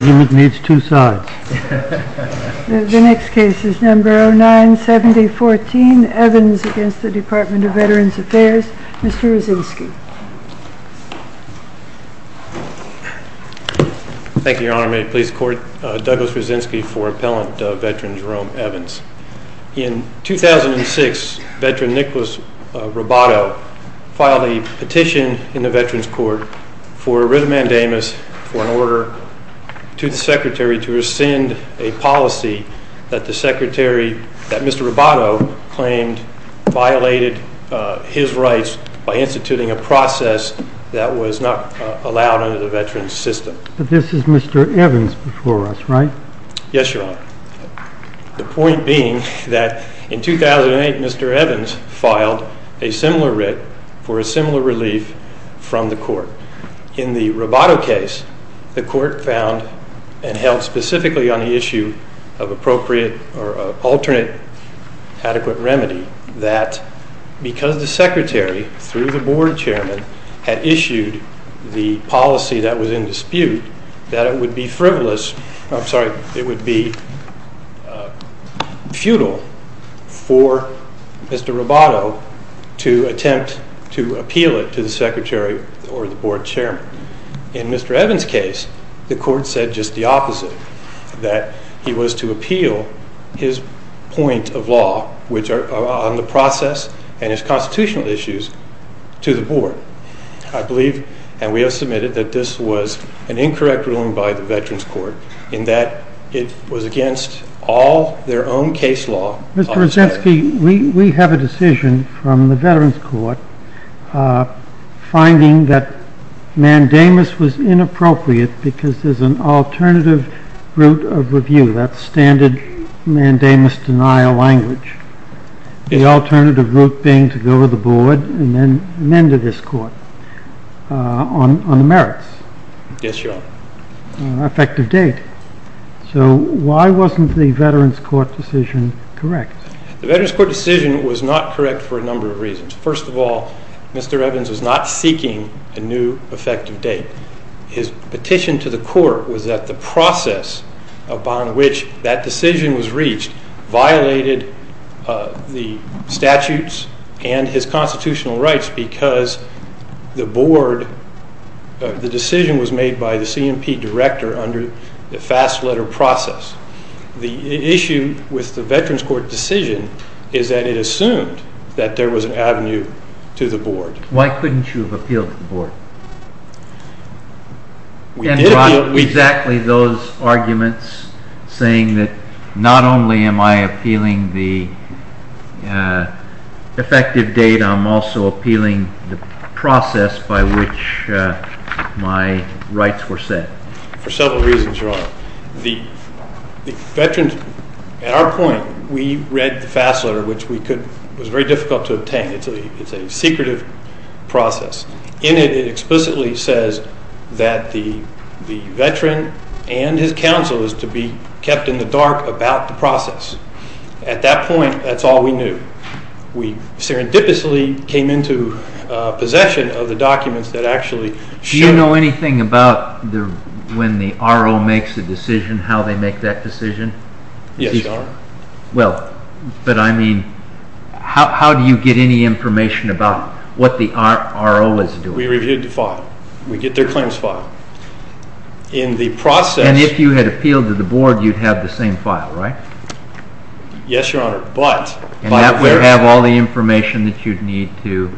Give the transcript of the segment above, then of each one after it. The next case is number 097014, Evans against the Department of Veterans Affairs. Mr. Raczynski. Thank you your honor. May it please the court. Douglas Raczynski for appellant veteran Jerome Evans. In 2006 veteran Nicholas Roboto filed a petition in the veterans court for arithmandamus for an order to the secretary to rescind a policy that the secretary, that Mr. Roboto claimed violated his rights by instituting a process that was not allowed under the veterans system. But this is Mr. Evans before us right? Yes your honor. The point being that in 2008 Mr. Evans filed a similar writ for a similar relief from the court. In the Roboto case the court found and held specifically on the issue of appropriate or alternate adequate remedy that because the secretary through the board chairman had issued the policy that was in dispute that it would be frivolous, I'm sorry, it would be futile for Mr. Roboto to attempt to appeal it to the secretary or the board chairman. In Mr. Evans case the court said just the opposite. That he was to appeal his point of law which are on the process and his constitutional issues to the board. I believe and we have submitted that this was an incorrect ruling by the veterans court in that it was against all their own case law. Mr. Rosetsky we have a decision from the veterans court finding that mandamus was inappropriate because there's an alternative route of review that standard mandamus denial language. The alternative route being to go to the board and then amend to this court on the merits. Yes your honor. Effective date. So why wasn't the veterans court decision correct? The veterans court decision was not correct for a number of reasons. First of all Mr. Evans was not seeking a new effective date. His petition to the court was that the process upon which that decision was reached violated the statutes and his constitutional rights because the decision was made by the CMP director under the fast letter process. The issue with the veterans court decision is that it assumed that there was an avenue to the board. Why couldn't you have appealed to the board? Exactly those arguments saying that not only am I appealing the effective date I'm also appealing the process by which my rights were set. For several reasons your honor. At our point we read the fast letter which was very difficult to obtain. It's a secretive process. In it it explicitly says that the veteran and his counsel is to be kept in the dark about the process. At that point that's all we knew. We serendipitously came into possession of the documents that actually. Do you know anything about when the RO makes a decision how they make that decision? Yes your honor. Well but I mean how do you get any information about what the RO is doing? We reviewed the file. We get their claims file. In the process. And if you had appealed to the board you'd have the same file right? Yes your honor but. You'd have all the information that you'd need to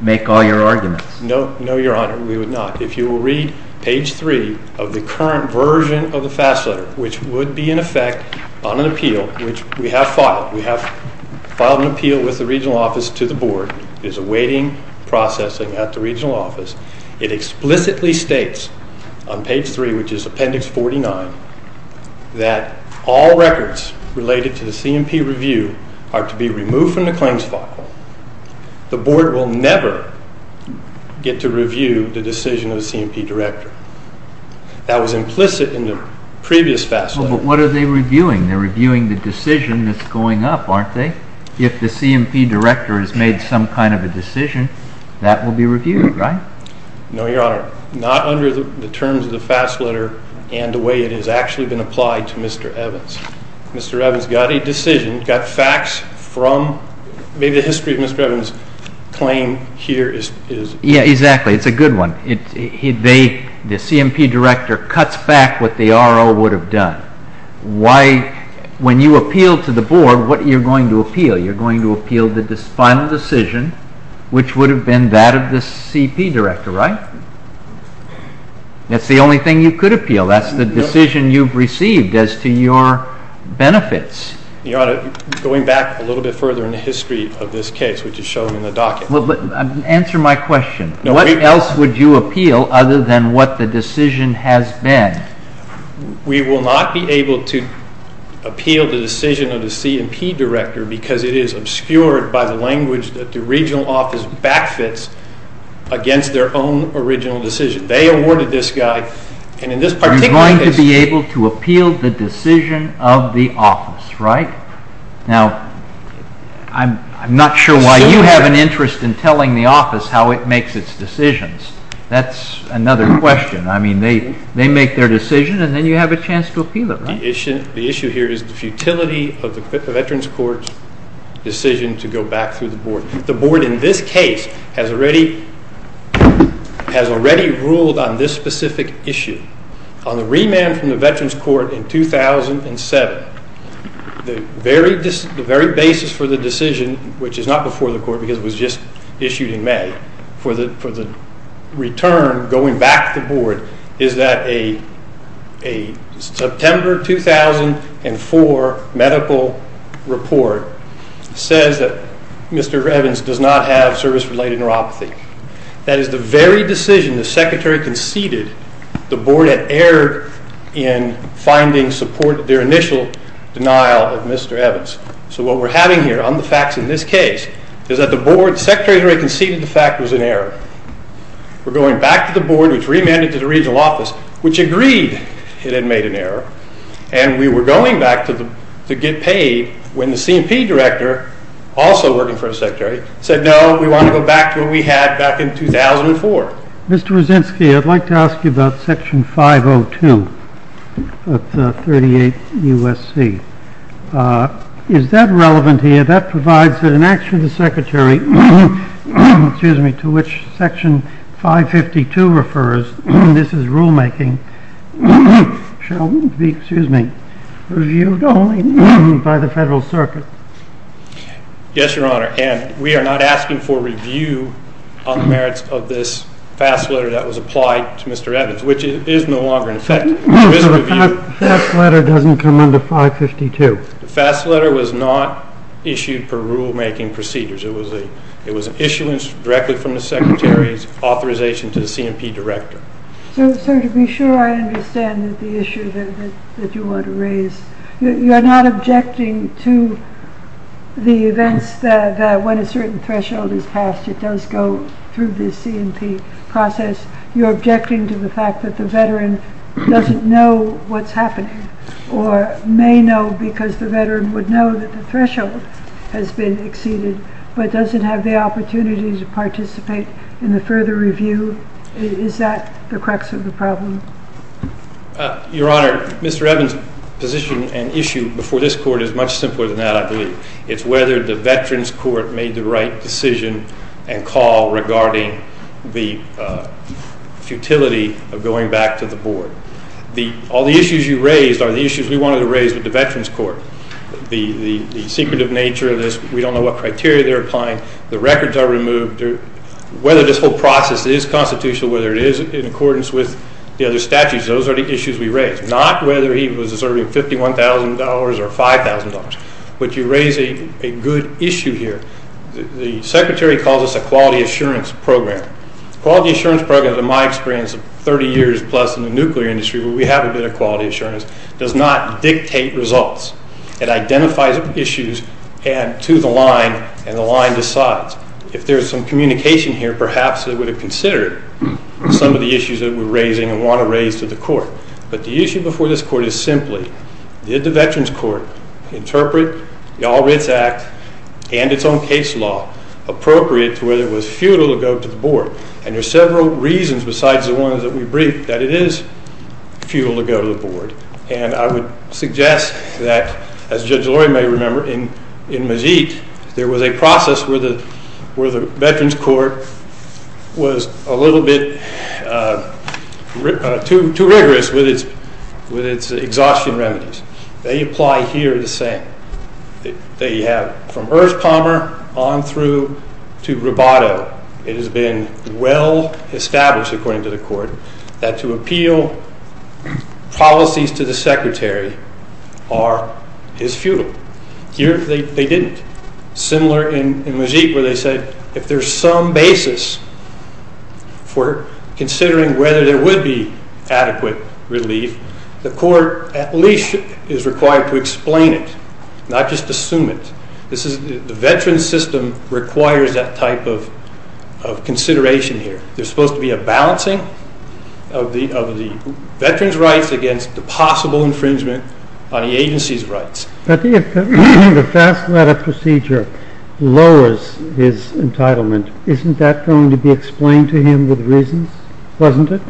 make all your arguments. No your honor we would not. If you will read page 3 of the current version of the fast letter which would be in effect on an appeal which we have filed. We have filed an appeal with the regional office to the board. There's a waiting processing at the regional office. It explicitly states on page 3 which is appendix 49 that all records related to the C&P review are to be removed from the claims file. The board will never get to review the decision of the C&P director. That was implicit in the previous fast letter. Well but what are they reviewing? They're reviewing the decision that's going up aren't they? If the C&P director has made some kind of a decision that will be reviewed right? No your honor. Not under the terms of the fast letter and the way it has actually been applied to Mr. Evans. Mr. Evans got a decision, got facts from maybe the history of Mr. Evans claim here is. Yeah exactly it's a good one. The C&P director cuts back what the R.O. would have done. When you appeal to the board what you're going to appeal? You're going to appeal the final decision which would have been that of the C&P director right? That's the only thing you could appeal. That's the decision you've received as to your benefits. Going back a little bit further in the history of this case which is shown in the docket. Answer my question. What else would you appeal other than what the decision has been? We will not be able to appeal the decision of the C&P director because it is obscured by the language that the regional office back fits against their own original decision. They awarded this guy and in this particular case. You're going to be able to appeal the decision of the office right? Now I'm not sure why you have an interest in telling the office how it makes its decisions. That's another question. I mean they make their decision and then you have a chance to appeal it right? The issue here is the futility of the veterans court's decision to go back through the board. The board in this case has already ruled on this specific issue. On the remand from the veterans court in 2007 the very basis for the decision which is not before the court because it was just issued in May. For the return going back to the board is that a September 2004 medical report says that Mr. Evans does not have service related neuropathy. That is the very decision the secretary conceded the board had erred in finding support of their initial denial of Mr. Evans. So what we're having here on the facts in this case is that the board secretary conceded the fact was an error. We're going back to the board which remanded to the regional office which agreed it had made an error and we were going back to get paid when the C&P director also working for a secretary said no we want to go back to what we had back in 2004. Mr. Rosinsky I'd like to ask you about section 502 of the 38 U.S.C. Is that relevant here? That provides that an action of the secretary to which section 552 refers, this is rulemaking, shall be reviewed only by the federal circuit. Yes your honor and we are not asking for review on the merits of this FAST letter that was applied to Mr. Evans which is no longer in effect. So the FAST letter doesn't come under 552? The FAST letter was not issued per rulemaking procedures. It was an issuance directly from the secretary's authorization to the C&P director. So to be sure I understand the issue that you want to raise. You're not objecting to the events that when a certain threshold is passed it does go through the C&P process. You're objecting to the fact that the veteran doesn't know what's happening or may know because the veteran would know that the threshold has been exceeded but doesn't have the opportunity to participate in the further review. Is that the crux of the problem? Your honor, Mr. Evans' position and issue before this court is much simpler than that I believe. It's whether the veterans court made the right decision and call regarding the futility of going back to the board. All the issues you raised are the issues we wanted to raise with the veterans court. The secretive nature of this, we don't know what criteria they're applying. The records are removed. Whether this whole process is constitutional, whether it is in accordance with the other statutes, those are the issues we raised. Not whether he was deserving of $51,000 or $5,000. But you raise a good issue here. The secretary calls this a quality assurance program. A quality assurance program, in my experience of 30 years plus in the nuclear industry where we have a bit of quality assurance, does not dictate results. It identifies issues to the line and the line decides. If there's some communication here, perhaps it would have considered some of the issues that we're raising and want to raise to the court. But the issue before this court is simply, did the veterans court interpret the All Writs Act and its own case law appropriate to whether it was futile to go to the board? And there are several reasons besides the ones that we briefed that it is futile to go to the board. And I would suggest that, as Judge Lori may remember, in Majit, there was a process where the veterans court was a little bit too rigorous with its exhaustion remedies. They apply here the same. They have from Erskine Palmer on through to Roboto. It has been well established, according to the court, that to appeal policies to the secretary is futile. Here they didn't. Similar in Majit where they said if there's some basis for considering whether there would be adequate relief, the court at least is required to explain it, not just assume it. The veterans system requires that type of consideration here. There's supposed to be a balancing of the veterans' rights against the possible infringement on the agency's rights. I think if the fast letter procedure lowers his entitlement, isn't that going to be explained to him with reasons, wasn't it?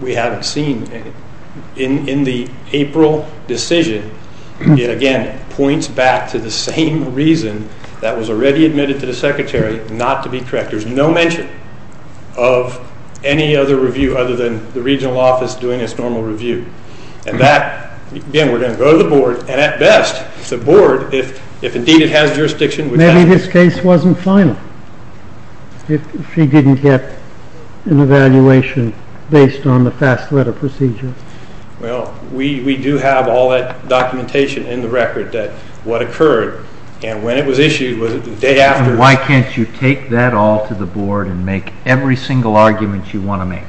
We haven't seen it. In the April decision, it again points back to the same reason that was already admitted to the secretary, not to be corrected. There's no mention of any other review other than the regional office doing its normal review. And that, again, we're going to go to the board. And at best, the board, if indeed it has jurisdiction... Maybe his case wasn't final if he didn't get an evaluation based on the fast letter procedure. Well, we do have all that documentation in the record that what occurred. And when it was issued, was it the day after? Why can't you take that all to the board and make every single argument you want to make?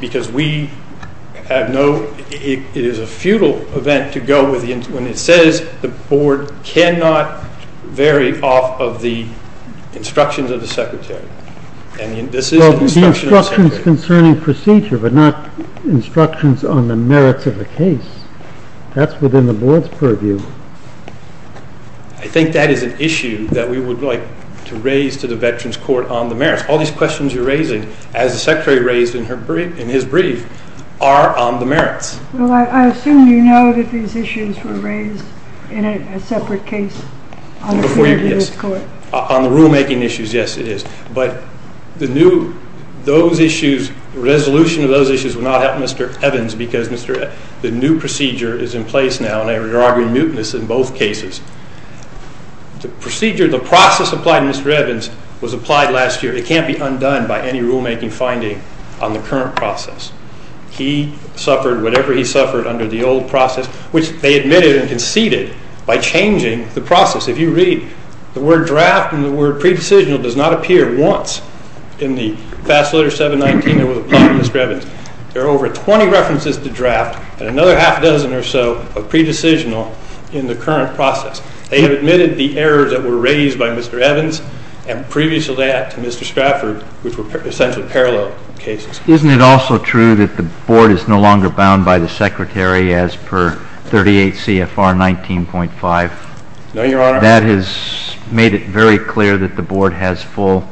Because we have no... It is a futile event to go with... When it says the board cannot vary off of the instructions of the secretary. And this is the instruction of the secretary. Well, the instructions concerning procedure, but not instructions on the merits of the case. That's within the board's purview. I think that is an issue that we would like to raise to the veterans' court on the merits. All these questions you're raising, as the secretary raised in his brief, are on the merits. Well, I assume you know that these issues were raised in a separate case on the committee of this court. On the rulemaking issues, yes, it is. But the new... Those issues, the resolution of those issues would not help Mr. Evans because the new procedure is in place now, and they're arguing mutinous in both cases. The procedure, the process applied to Mr. Evans was applied last year. It can't be undone by any rulemaking finding on the current process. He suffered whatever he suffered under the old process, which they admitted and conceded by changing the process. If you read, the word draft and the word pre-decisional does not appear once in the fast letter 719 that was applied to Mr. Evans. There are over 20 references to draft and another half a dozen or so of pre-decisional in the current process. They have admitted the errors that were raised by Mr. Evans and previously to Mr. Stratford, which were essentially parallel cases. Isn't it also true that the board is no longer bound by the secretary as per 38 CFR 19.5? No, Your Honor. That has made it very clear that the board has full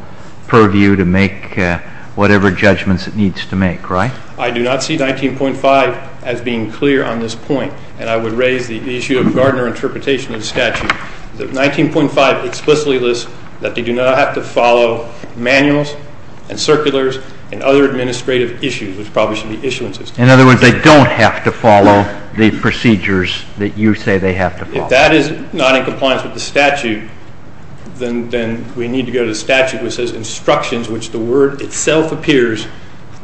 purview to make whatever judgments it needs to make, right? I do not see 19.5 as being clear on this point. And I would raise the issue of Gardner interpretation of the statute. 19.5 explicitly lists that they do not have to follow manuals and circulars and other administrative issues, which probably should be issuances. In other words, they don't have to follow the procedures that you say they have to follow. If that is not in compliance with the statute, then we need to go to the statute which says instructions, which the word itself appears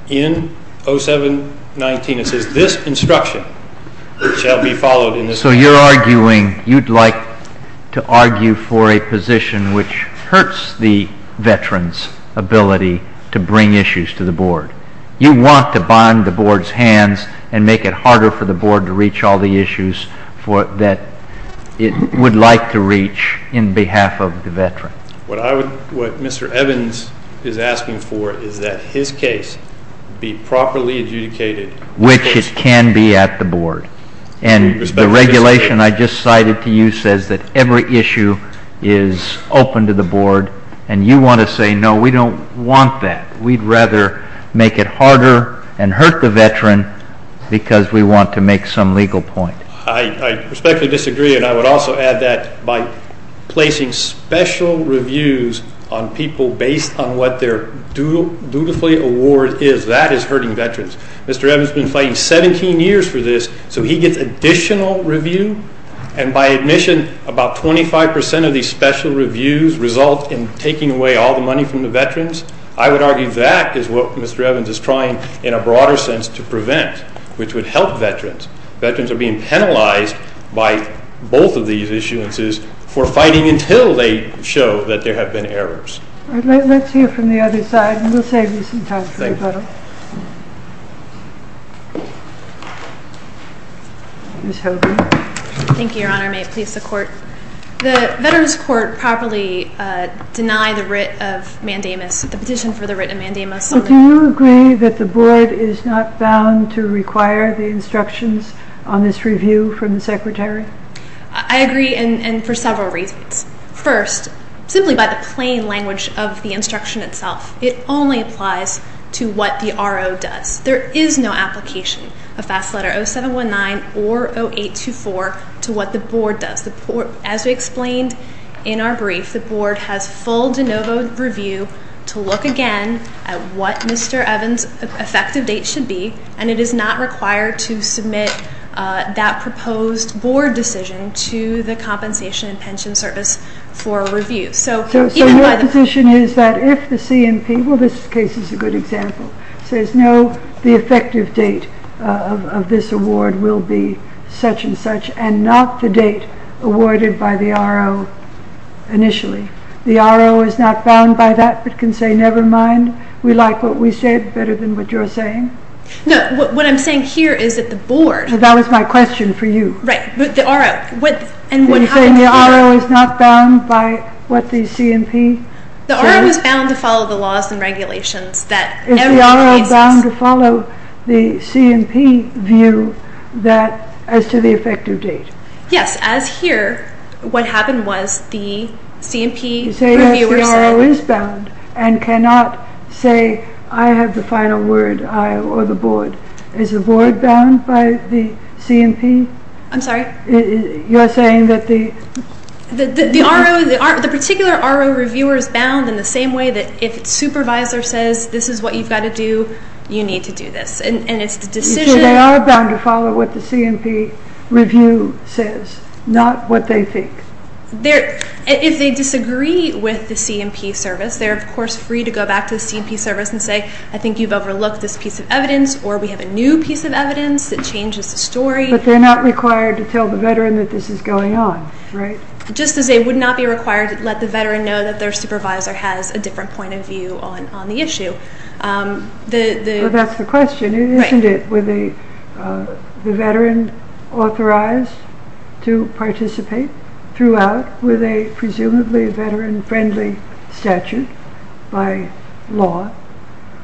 in 0719. It says this instruction shall be followed in this court. So you're arguing, you'd like to argue for a position which hurts the veteran's ability to bring issues to the board. You want to bind the board's hands and make it harder for the board to reach all the issues that it would like to reach in behalf of the veteran. What Mr. Evans is asking for is that his case be properly adjudicated. Which it can be at the board. And the regulation I just cited to you says that every issue is open to the board. And you want to say, no, we don't want that. We'd rather make it harder and hurt the veteran because we want to make some legal point. I respectfully disagree. And I would also add that by placing special reviews on people based on what their dutifully award is, that is hurting veterans. Mr. Evans has been fighting 17 years for this. So he gets additional review. And by admission, about 25% of these special reviews result in taking away all the money from the veterans. I would argue that is what Mr. Evans is trying in a broader sense to prevent, which would help veterans. Veterans are being penalized by both of these issuances for fighting until they show that there have been errors. All right. Let's hear from the other side. And we'll save you some time. Thank you. Ms. Hogan. Thank you, Your Honor. May it please the Court. The Veterans Court properly denied the writ of mandamus, the petition for the writ of mandamus. Do you agree that the Board is not bound to require the instructions on this review from the Secretary? I agree, and for several reasons. First, simply by the plain language of the instruction itself, it only applies to what the RO does. There is no application of Fast Letter 0719 or 0824 to what the Board does. As we explained in our brief, the Board has full de novo review to look again at what Mr. Evans' effective date should be, and it is not required to submit that proposed Board decision to the Compensation and Pension Service for review. So your position is that if the CMP, well, this case is a good example, says, no, the effective date of this award will be such and such, and not the date awarded by the RO initially. The RO is not bound by that, but can say, never mind, we like what we said better than what you're saying? No, what I'm saying here is that the Board. That was my question for you. Right, but the RO, and what happened to the RO? Are you saying the RO is not bound by what the CMP says? The RO is bound to follow the laws and regulations. Is the RO bound to follow the CMP view as to the effective date? Yes, as here, what happened was the CMP reviewers... You say that the RO is bound and cannot say, I have the final word, I, or the Board. Is the Board bound by the CMP? I'm sorry? You're saying that the... The RO, the particular RO reviewer is bound in the same way that if its supervisor says, this is what you've got to do, you need to do this, and it's the decision... You say they are bound to follow what the CMP review says, not what they think. If they disagree with the CMP service, they're, of course, free to go back to the CMP service and say, I think you've overlooked this piece of evidence, or we have a new piece of evidence that changes the story. But they're not required to tell the veteran that this is going on, right? Just as they would not be required to let the veteran know that their supervisor has a different point of view on the issue. That's the question, isn't it? Were the veterans authorized to participate throughout with a presumably veteran-friendly statute by law?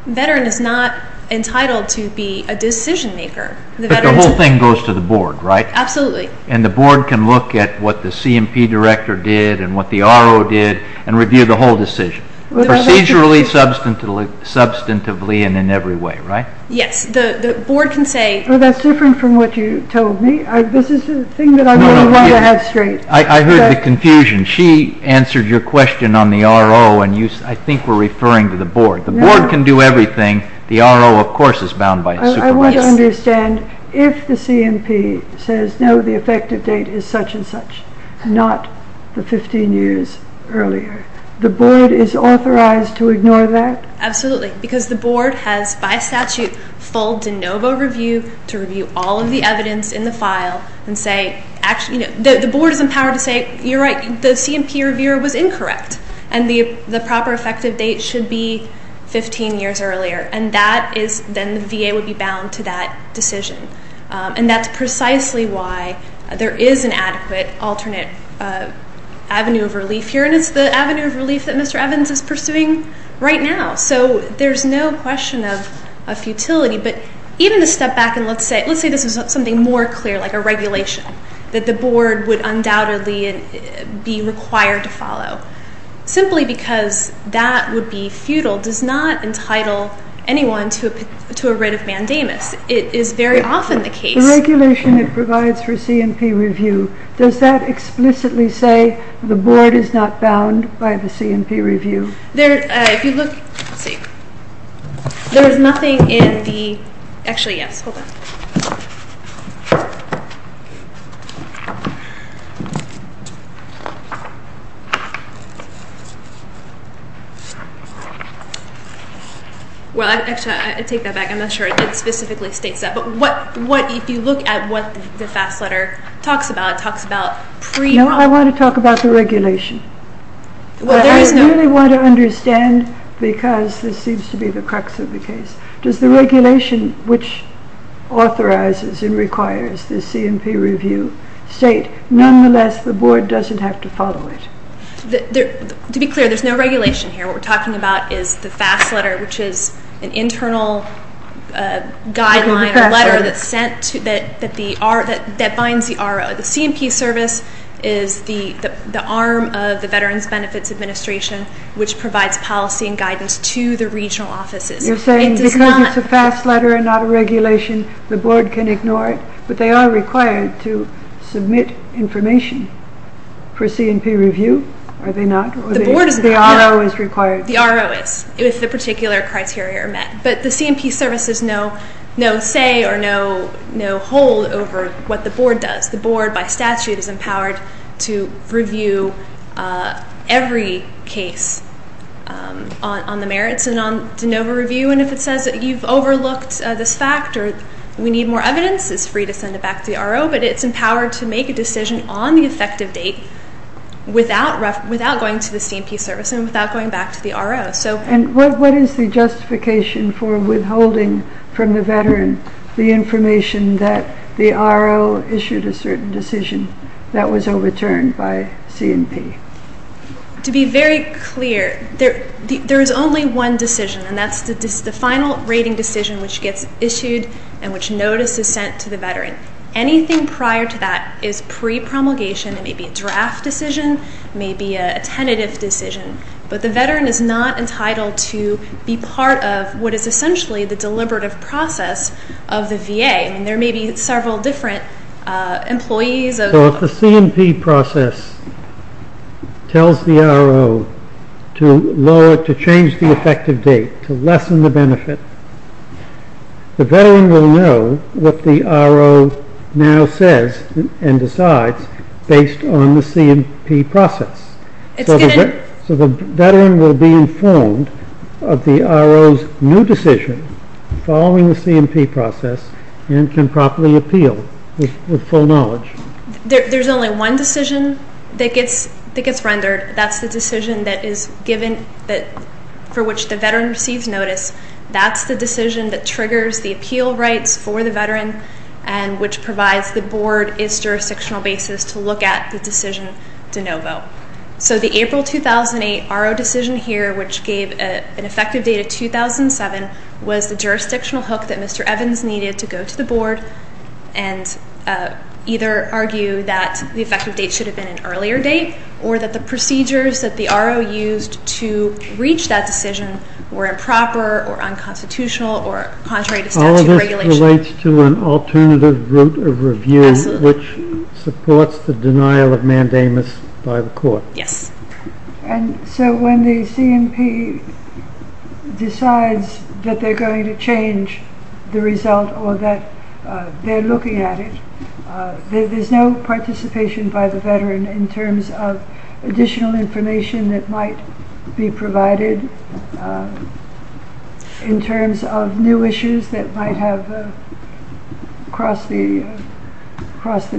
A veteran is not entitled to be a decision-maker. But the whole thing goes to the board, right? Absolutely. And the board can look at what the CMP director did and what the RO did and review the whole decision. Procedurally, substantively, and in every way, right? Yes. The board can say... Well, that's different from what you told me. This is a thing that I really want to have straight. I heard the confusion. She answered your question on the RO, and I think we're referring to the board. The board can do everything. The RO, of course, is bound by the supervisor. I want to understand if the CMP says, no, the effective date is such and such, not the 15 years earlier. The board is authorized to ignore that? Absolutely. Because the board has, by statute, full de novo review to review all of the evidence in the file and say... The board is empowered to say, you're right, the CMP reviewer was incorrect, and the proper effective date should be 15 years earlier. And then the VA would be bound to that decision. And that's precisely why there is an adequate alternate avenue of relief here, and it's the avenue of relief that Mr. Evans is pursuing right now. So there's no question of futility. But even to step back and let's say this was something more clear, like a regulation that the board would undoubtedly be required to follow. Simply because that would be futile does not entitle anyone to a writ of mandamus. It is very often the case... The regulation it provides for CMP review, does that explicitly say the board is not bound by the CMP review? If you look, let's see. There is nothing in the... Actually, yes, hold on. Well, actually, I take that back. I'm not sure it specifically states that. But if you look at what the FAFSA letter talks about, it talks about pre... No, I want to talk about the regulation. Well, there is no... I really want to understand, because this seems to be the crux of the case, does the regulation which authorizes and requires the CMP review state, nonetheless, the board doesn't have to follow it? To be clear, there's no regulation here. What we're talking about is the FAFSA letter, which is an internal guideline, a letter that binds the RO. The CMP service is the arm of the Veterans Benefits Administration, which provides policy and guidance to the regional offices. You're saying because it's a FAFSA letter and not a regulation, the board can ignore it, but they are required to submit information for CMP review, are they not? The board is not. The RO is required. The RO is, if the particular criteria are met. But the CMP service is no say or no hold over what the board does. The board, by statute, is empowered to review every case on the merits and on de novo review, and if it says that you've overlooked this fact or we need more evidence, it's free to send it back to the RO, but it's empowered to make a decision on the effective date without going to the CMP service and without going back to the RO. And what is the justification for withholding from the Veteran the information that the RO issued a certain decision that was overturned by CMP? To be very clear, there is only one decision, and that's the final rating decision which gets issued and which notice is sent to the Veteran. Anything prior to that is pre-promulgation. It may be a draft decision. It may be a tentative decision. But the Veteran is not entitled to be part of what is essentially the deliberative process of the VA. There may be several different employees. So if the CMP process tells the RO to change the effective date, to lessen the benefit, the Veteran will know what the RO now says and decides based on the CMP process. So the Veteran will be informed of the RO's new decision following the CMP process and can properly appeal with full knowledge. There's only one decision that gets rendered. That's the decision for which the Veteran receives notice. That's the decision that triggers the appeal rights for the Veteran and which provides the Board its jurisdictional basis to look at the decision de novo. So the April 2008 RO decision here, which gave an effective date of 2007, was the jurisdictional hook that Mr. Evans needed to go to the Board and either argue that the effective date should have been an earlier date or that the procedures that the RO used to reach that decision were improper or unconstitutional or contrary to statute of regulations. It relates to an alternative route of review, which supports the denial of mandamus by the Court. Yes. And so when the CMP decides that they're going to change the result or that they're looking at it, there's no participation by the Veteran in terms of additional information that might be provided, in terms of new issues that might have crossed the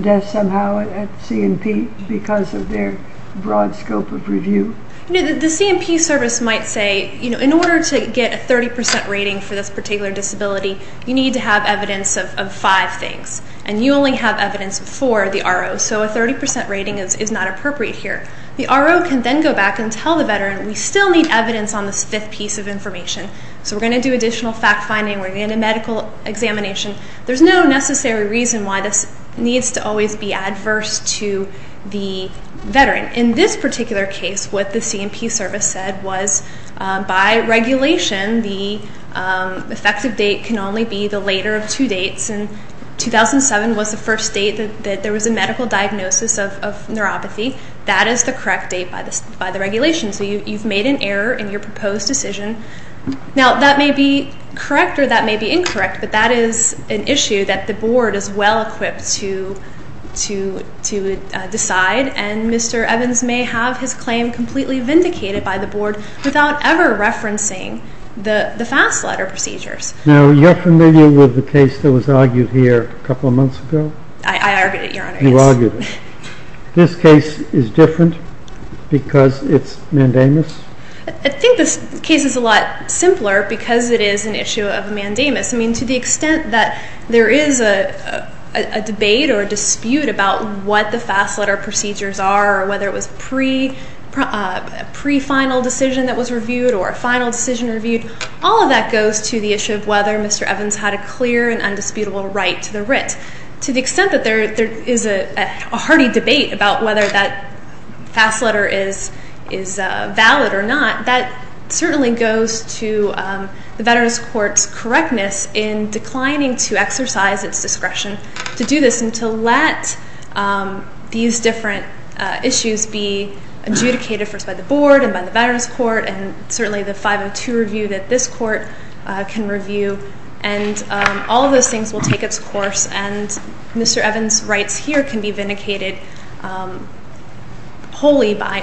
desk somehow at CMP because of their broad scope of review. The CMP service might say, in order to get a 30% rating for this particular disability, you need to have evidence of five things, and you only have evidence for the RO, so a 30% rating is not appropriate here. The RO can then go back and tell the Veteran, we still need evidence on this fifth piece of information, so we're going to do additional fact-finding, we're going to get a medical examination. There's no necessary reason why this needs to always be adverse to the Veteran. In this particular case, what the CMP service said was, by regulation, the effective date can only be the later of two dates, and 2007 was the first date that there was a medical diagnosis of neuropathy. That is the correct date by the regulation, so you've made an error in your proposed decision. Now, that may be correct or that may be incorrect, but that is an issue that the Board is well-equipped to decide, and Mr. Evans may have his claim completely vindicated by the Board without ever referencing the fast letter procedures. Now, you're familiar with the case that was argued here a couple of months ago? I argued it, Your Honor. You argued it. This case is different because it's mandamus? I think this case is a lot simpler because it is an issue of mandamus. I mean, to the extent that there is a debate or a dispute about what the fast letter procedures are or whether it was a pre-final decision that was reviewed or a final decision reviewed, all of that goes to the issue of whether Mr. Evans had a clear and undisputable right to the writ. To the extent that there is a hearty debate about whether that fast letter is valid or not, that certainly goes to the Veterans Court's correctness in declining to exercise its discretion to do this and to let these different issues be adjudicated first by the Board and by the Veterans Court and certainly the 502 review that this Court can review, and all of those things will take its course, and Mr. Evans' rights here can be vindicated wholly by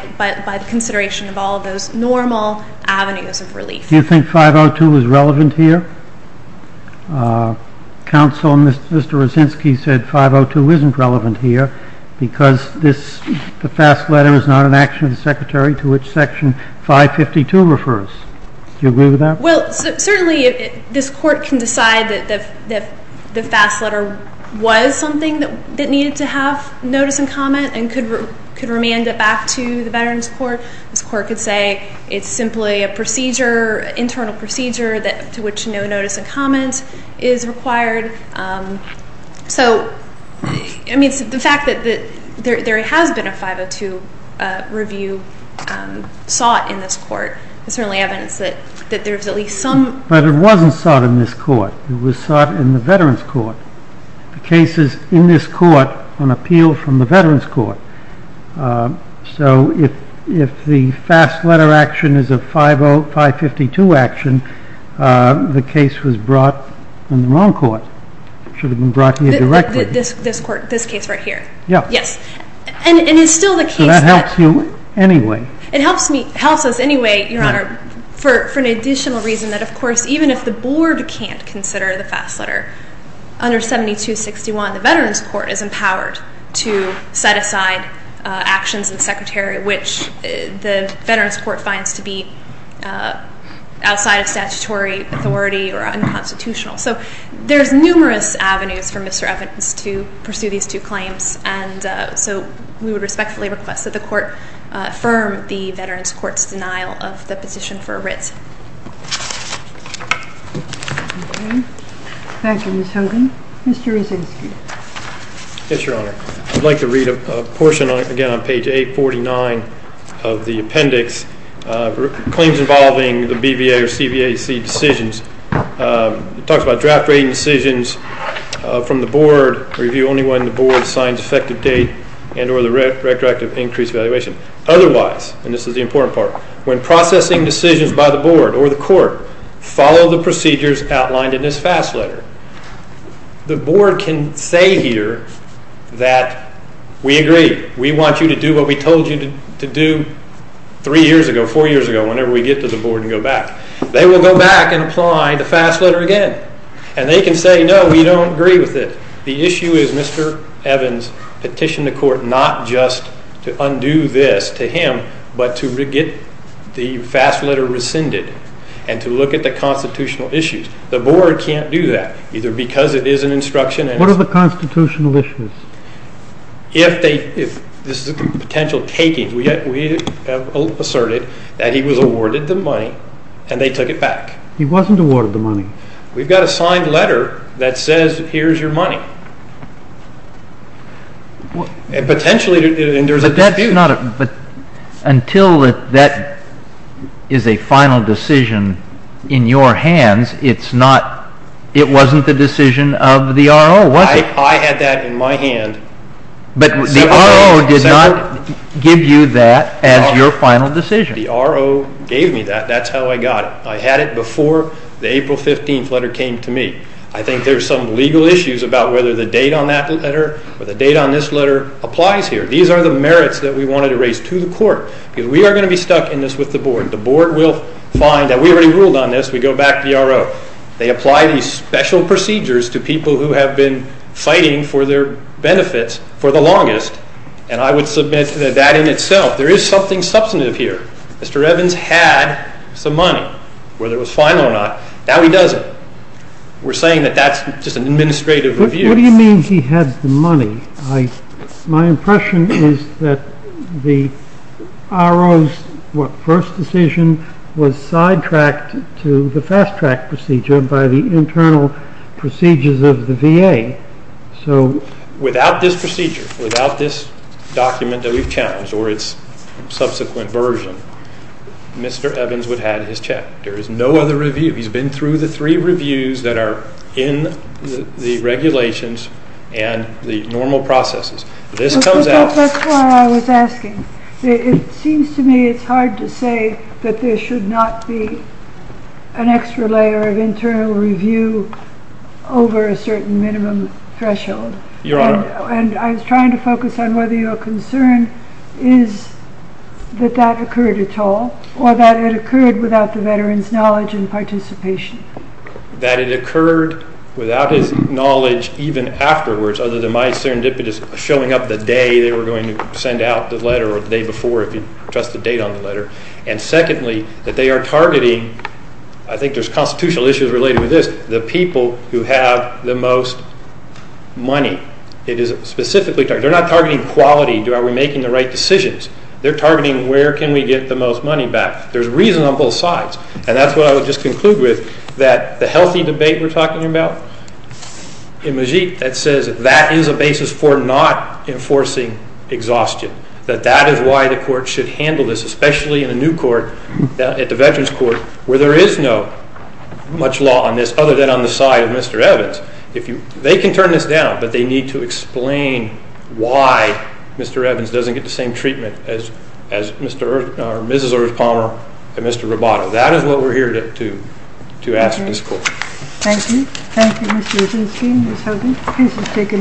the consideration of all of those normal avenues of relief. Do you think 502 is relevant here? Counsel, Mr. Rosinsky said 502 isn't relevant here because the fast letter is not an action of the Secretary to which Section 552 refers. Do you agree with that? Well, certainly this Court can decide that the fast letter was something that needed to have notice and comment and could remand it back to the Veterans Court. This Court could say it's simply an internal procedure to which no notice and comment is required. So the fact that there has been a 502 review sought in this Court But it wasn't sought in this Court. It was sought in the Veterans Court. The case is in this Court on appeal from the Veterans Court. So if the fast letter action is a 502 action, the case was brought in the wrong Court. It should have been brought here directly. This case right here. Yes. And it's still the case that So that helps you anyway. It helps us anyway, Your Honor, for an additional reason that, of course, even if the Board can't consider the fast letter under 7261, the Veterans Court is empowered to set aside actions in the Secretary which the Veterans Court finds to be outside of statutory authority or unconstitutional. So there's numerous avenues for Mr. Evans to pursue these two claims. And so we would respectfully request that the Court affirm the Veterans Court's denial of the petition for writ. Thank you, Ms. Hogan. Mr. Rezinski. Yes, Your Honor. I'd like to read a portion, again, on page 849 of the appendix, claims involving the BVA or CVAC decisions. It talks about draft rating decisions from the Board, review only when the Board signs effective date and or the retroactive increase valuation. Otherwise, and this is the important part, when processing decisions by the Board or the Court, follow the procedures outlined in this fast letter. The Board can say here that we agree. We want you to do what we told you to do three years ago, four years ago, whenever we get to the Board and go back. They will go back and apply the fast letter again. And they can say, no, we don't agree with it. The issue is Mr. Evans petitioned the Court not just to undo this to him, but to get the fast letter rescinded and to look at the constitutional issues. The Board can't do that, either because it is an instruction and... What are the constitutional issues? If they, if this is a potential taking, we have asserted that he was awarded the money and they took it back. He wasn't awarded the money. We've got a signed letter that says here's your money. Potentially, there's a dispute. But until that is a final decision in your hands, it's not, it wasn't the decision of the RO, was it? I had that in my hand. But the RO did not give you that as your final decision. The RO gave me that. That's how I got it. I had it before the April 15th letter came to me. I think there's some legal issues about whether the date on that letter or the date on this letter applies here. These are the merits that we wanted to raise to the Court because we are going to be stuck in this with the Board. The Board will find that we already ruled on this. We go back to the RO. They apply these special procedures to people who have been fighting for their benefits for the longest, and I would submit that that in itself, there is something substantive here. Mr. Evans had some money, whether it was final or not. Now he doesn't. We're saying that that's just an administrative review. What do you mean he had the money? My impression is that the RO's first decision was sidetracked to the fast-track procedure by the internal procedures of the VA. Without this procedure, without this document that we've challenged or its subsequent version, Mr. Evans would have had his check. There is no other review. He's been through the three reviews that are in the regulations and the normal processes. That's why I was asking. It seems to me it's hard to say that there should not be an extra layer of internal review over a certain minimum threshold. Your Honor. I was trying to focus on whether your concern is that that occurred at all or that it occurred without the veteran's knowledge and participation. That it occurred without his knowledge even afterwards, other than my serendipitous showing up the day they were going to send out the letter or the day before if you trust the date on the letter. Secondly, that they are targeting, I think there's constitutional issues related with this, the people who have the most money. It is specifically targeted. They're not targeting quality. Are we making the right decisions? They're targeting where can we get the most money back. There's reason on both sides. And that's what I would just conclude with, that the healthy debate we're talking about in Majid, that says that is a basis for not enforcing exhaustion, that that is why the court should handle this, other than on the side of Mr. Evans. They can turn this down, but they need to explain why Mr. Evans doesn't get the same treatment as Mrs. Earth Palmer and Mr. Roboto. That is what we're here to ask this court. Thank you. Thank you, Mr. Rosenstein, Ms. Hogan. Please just take an entry submission.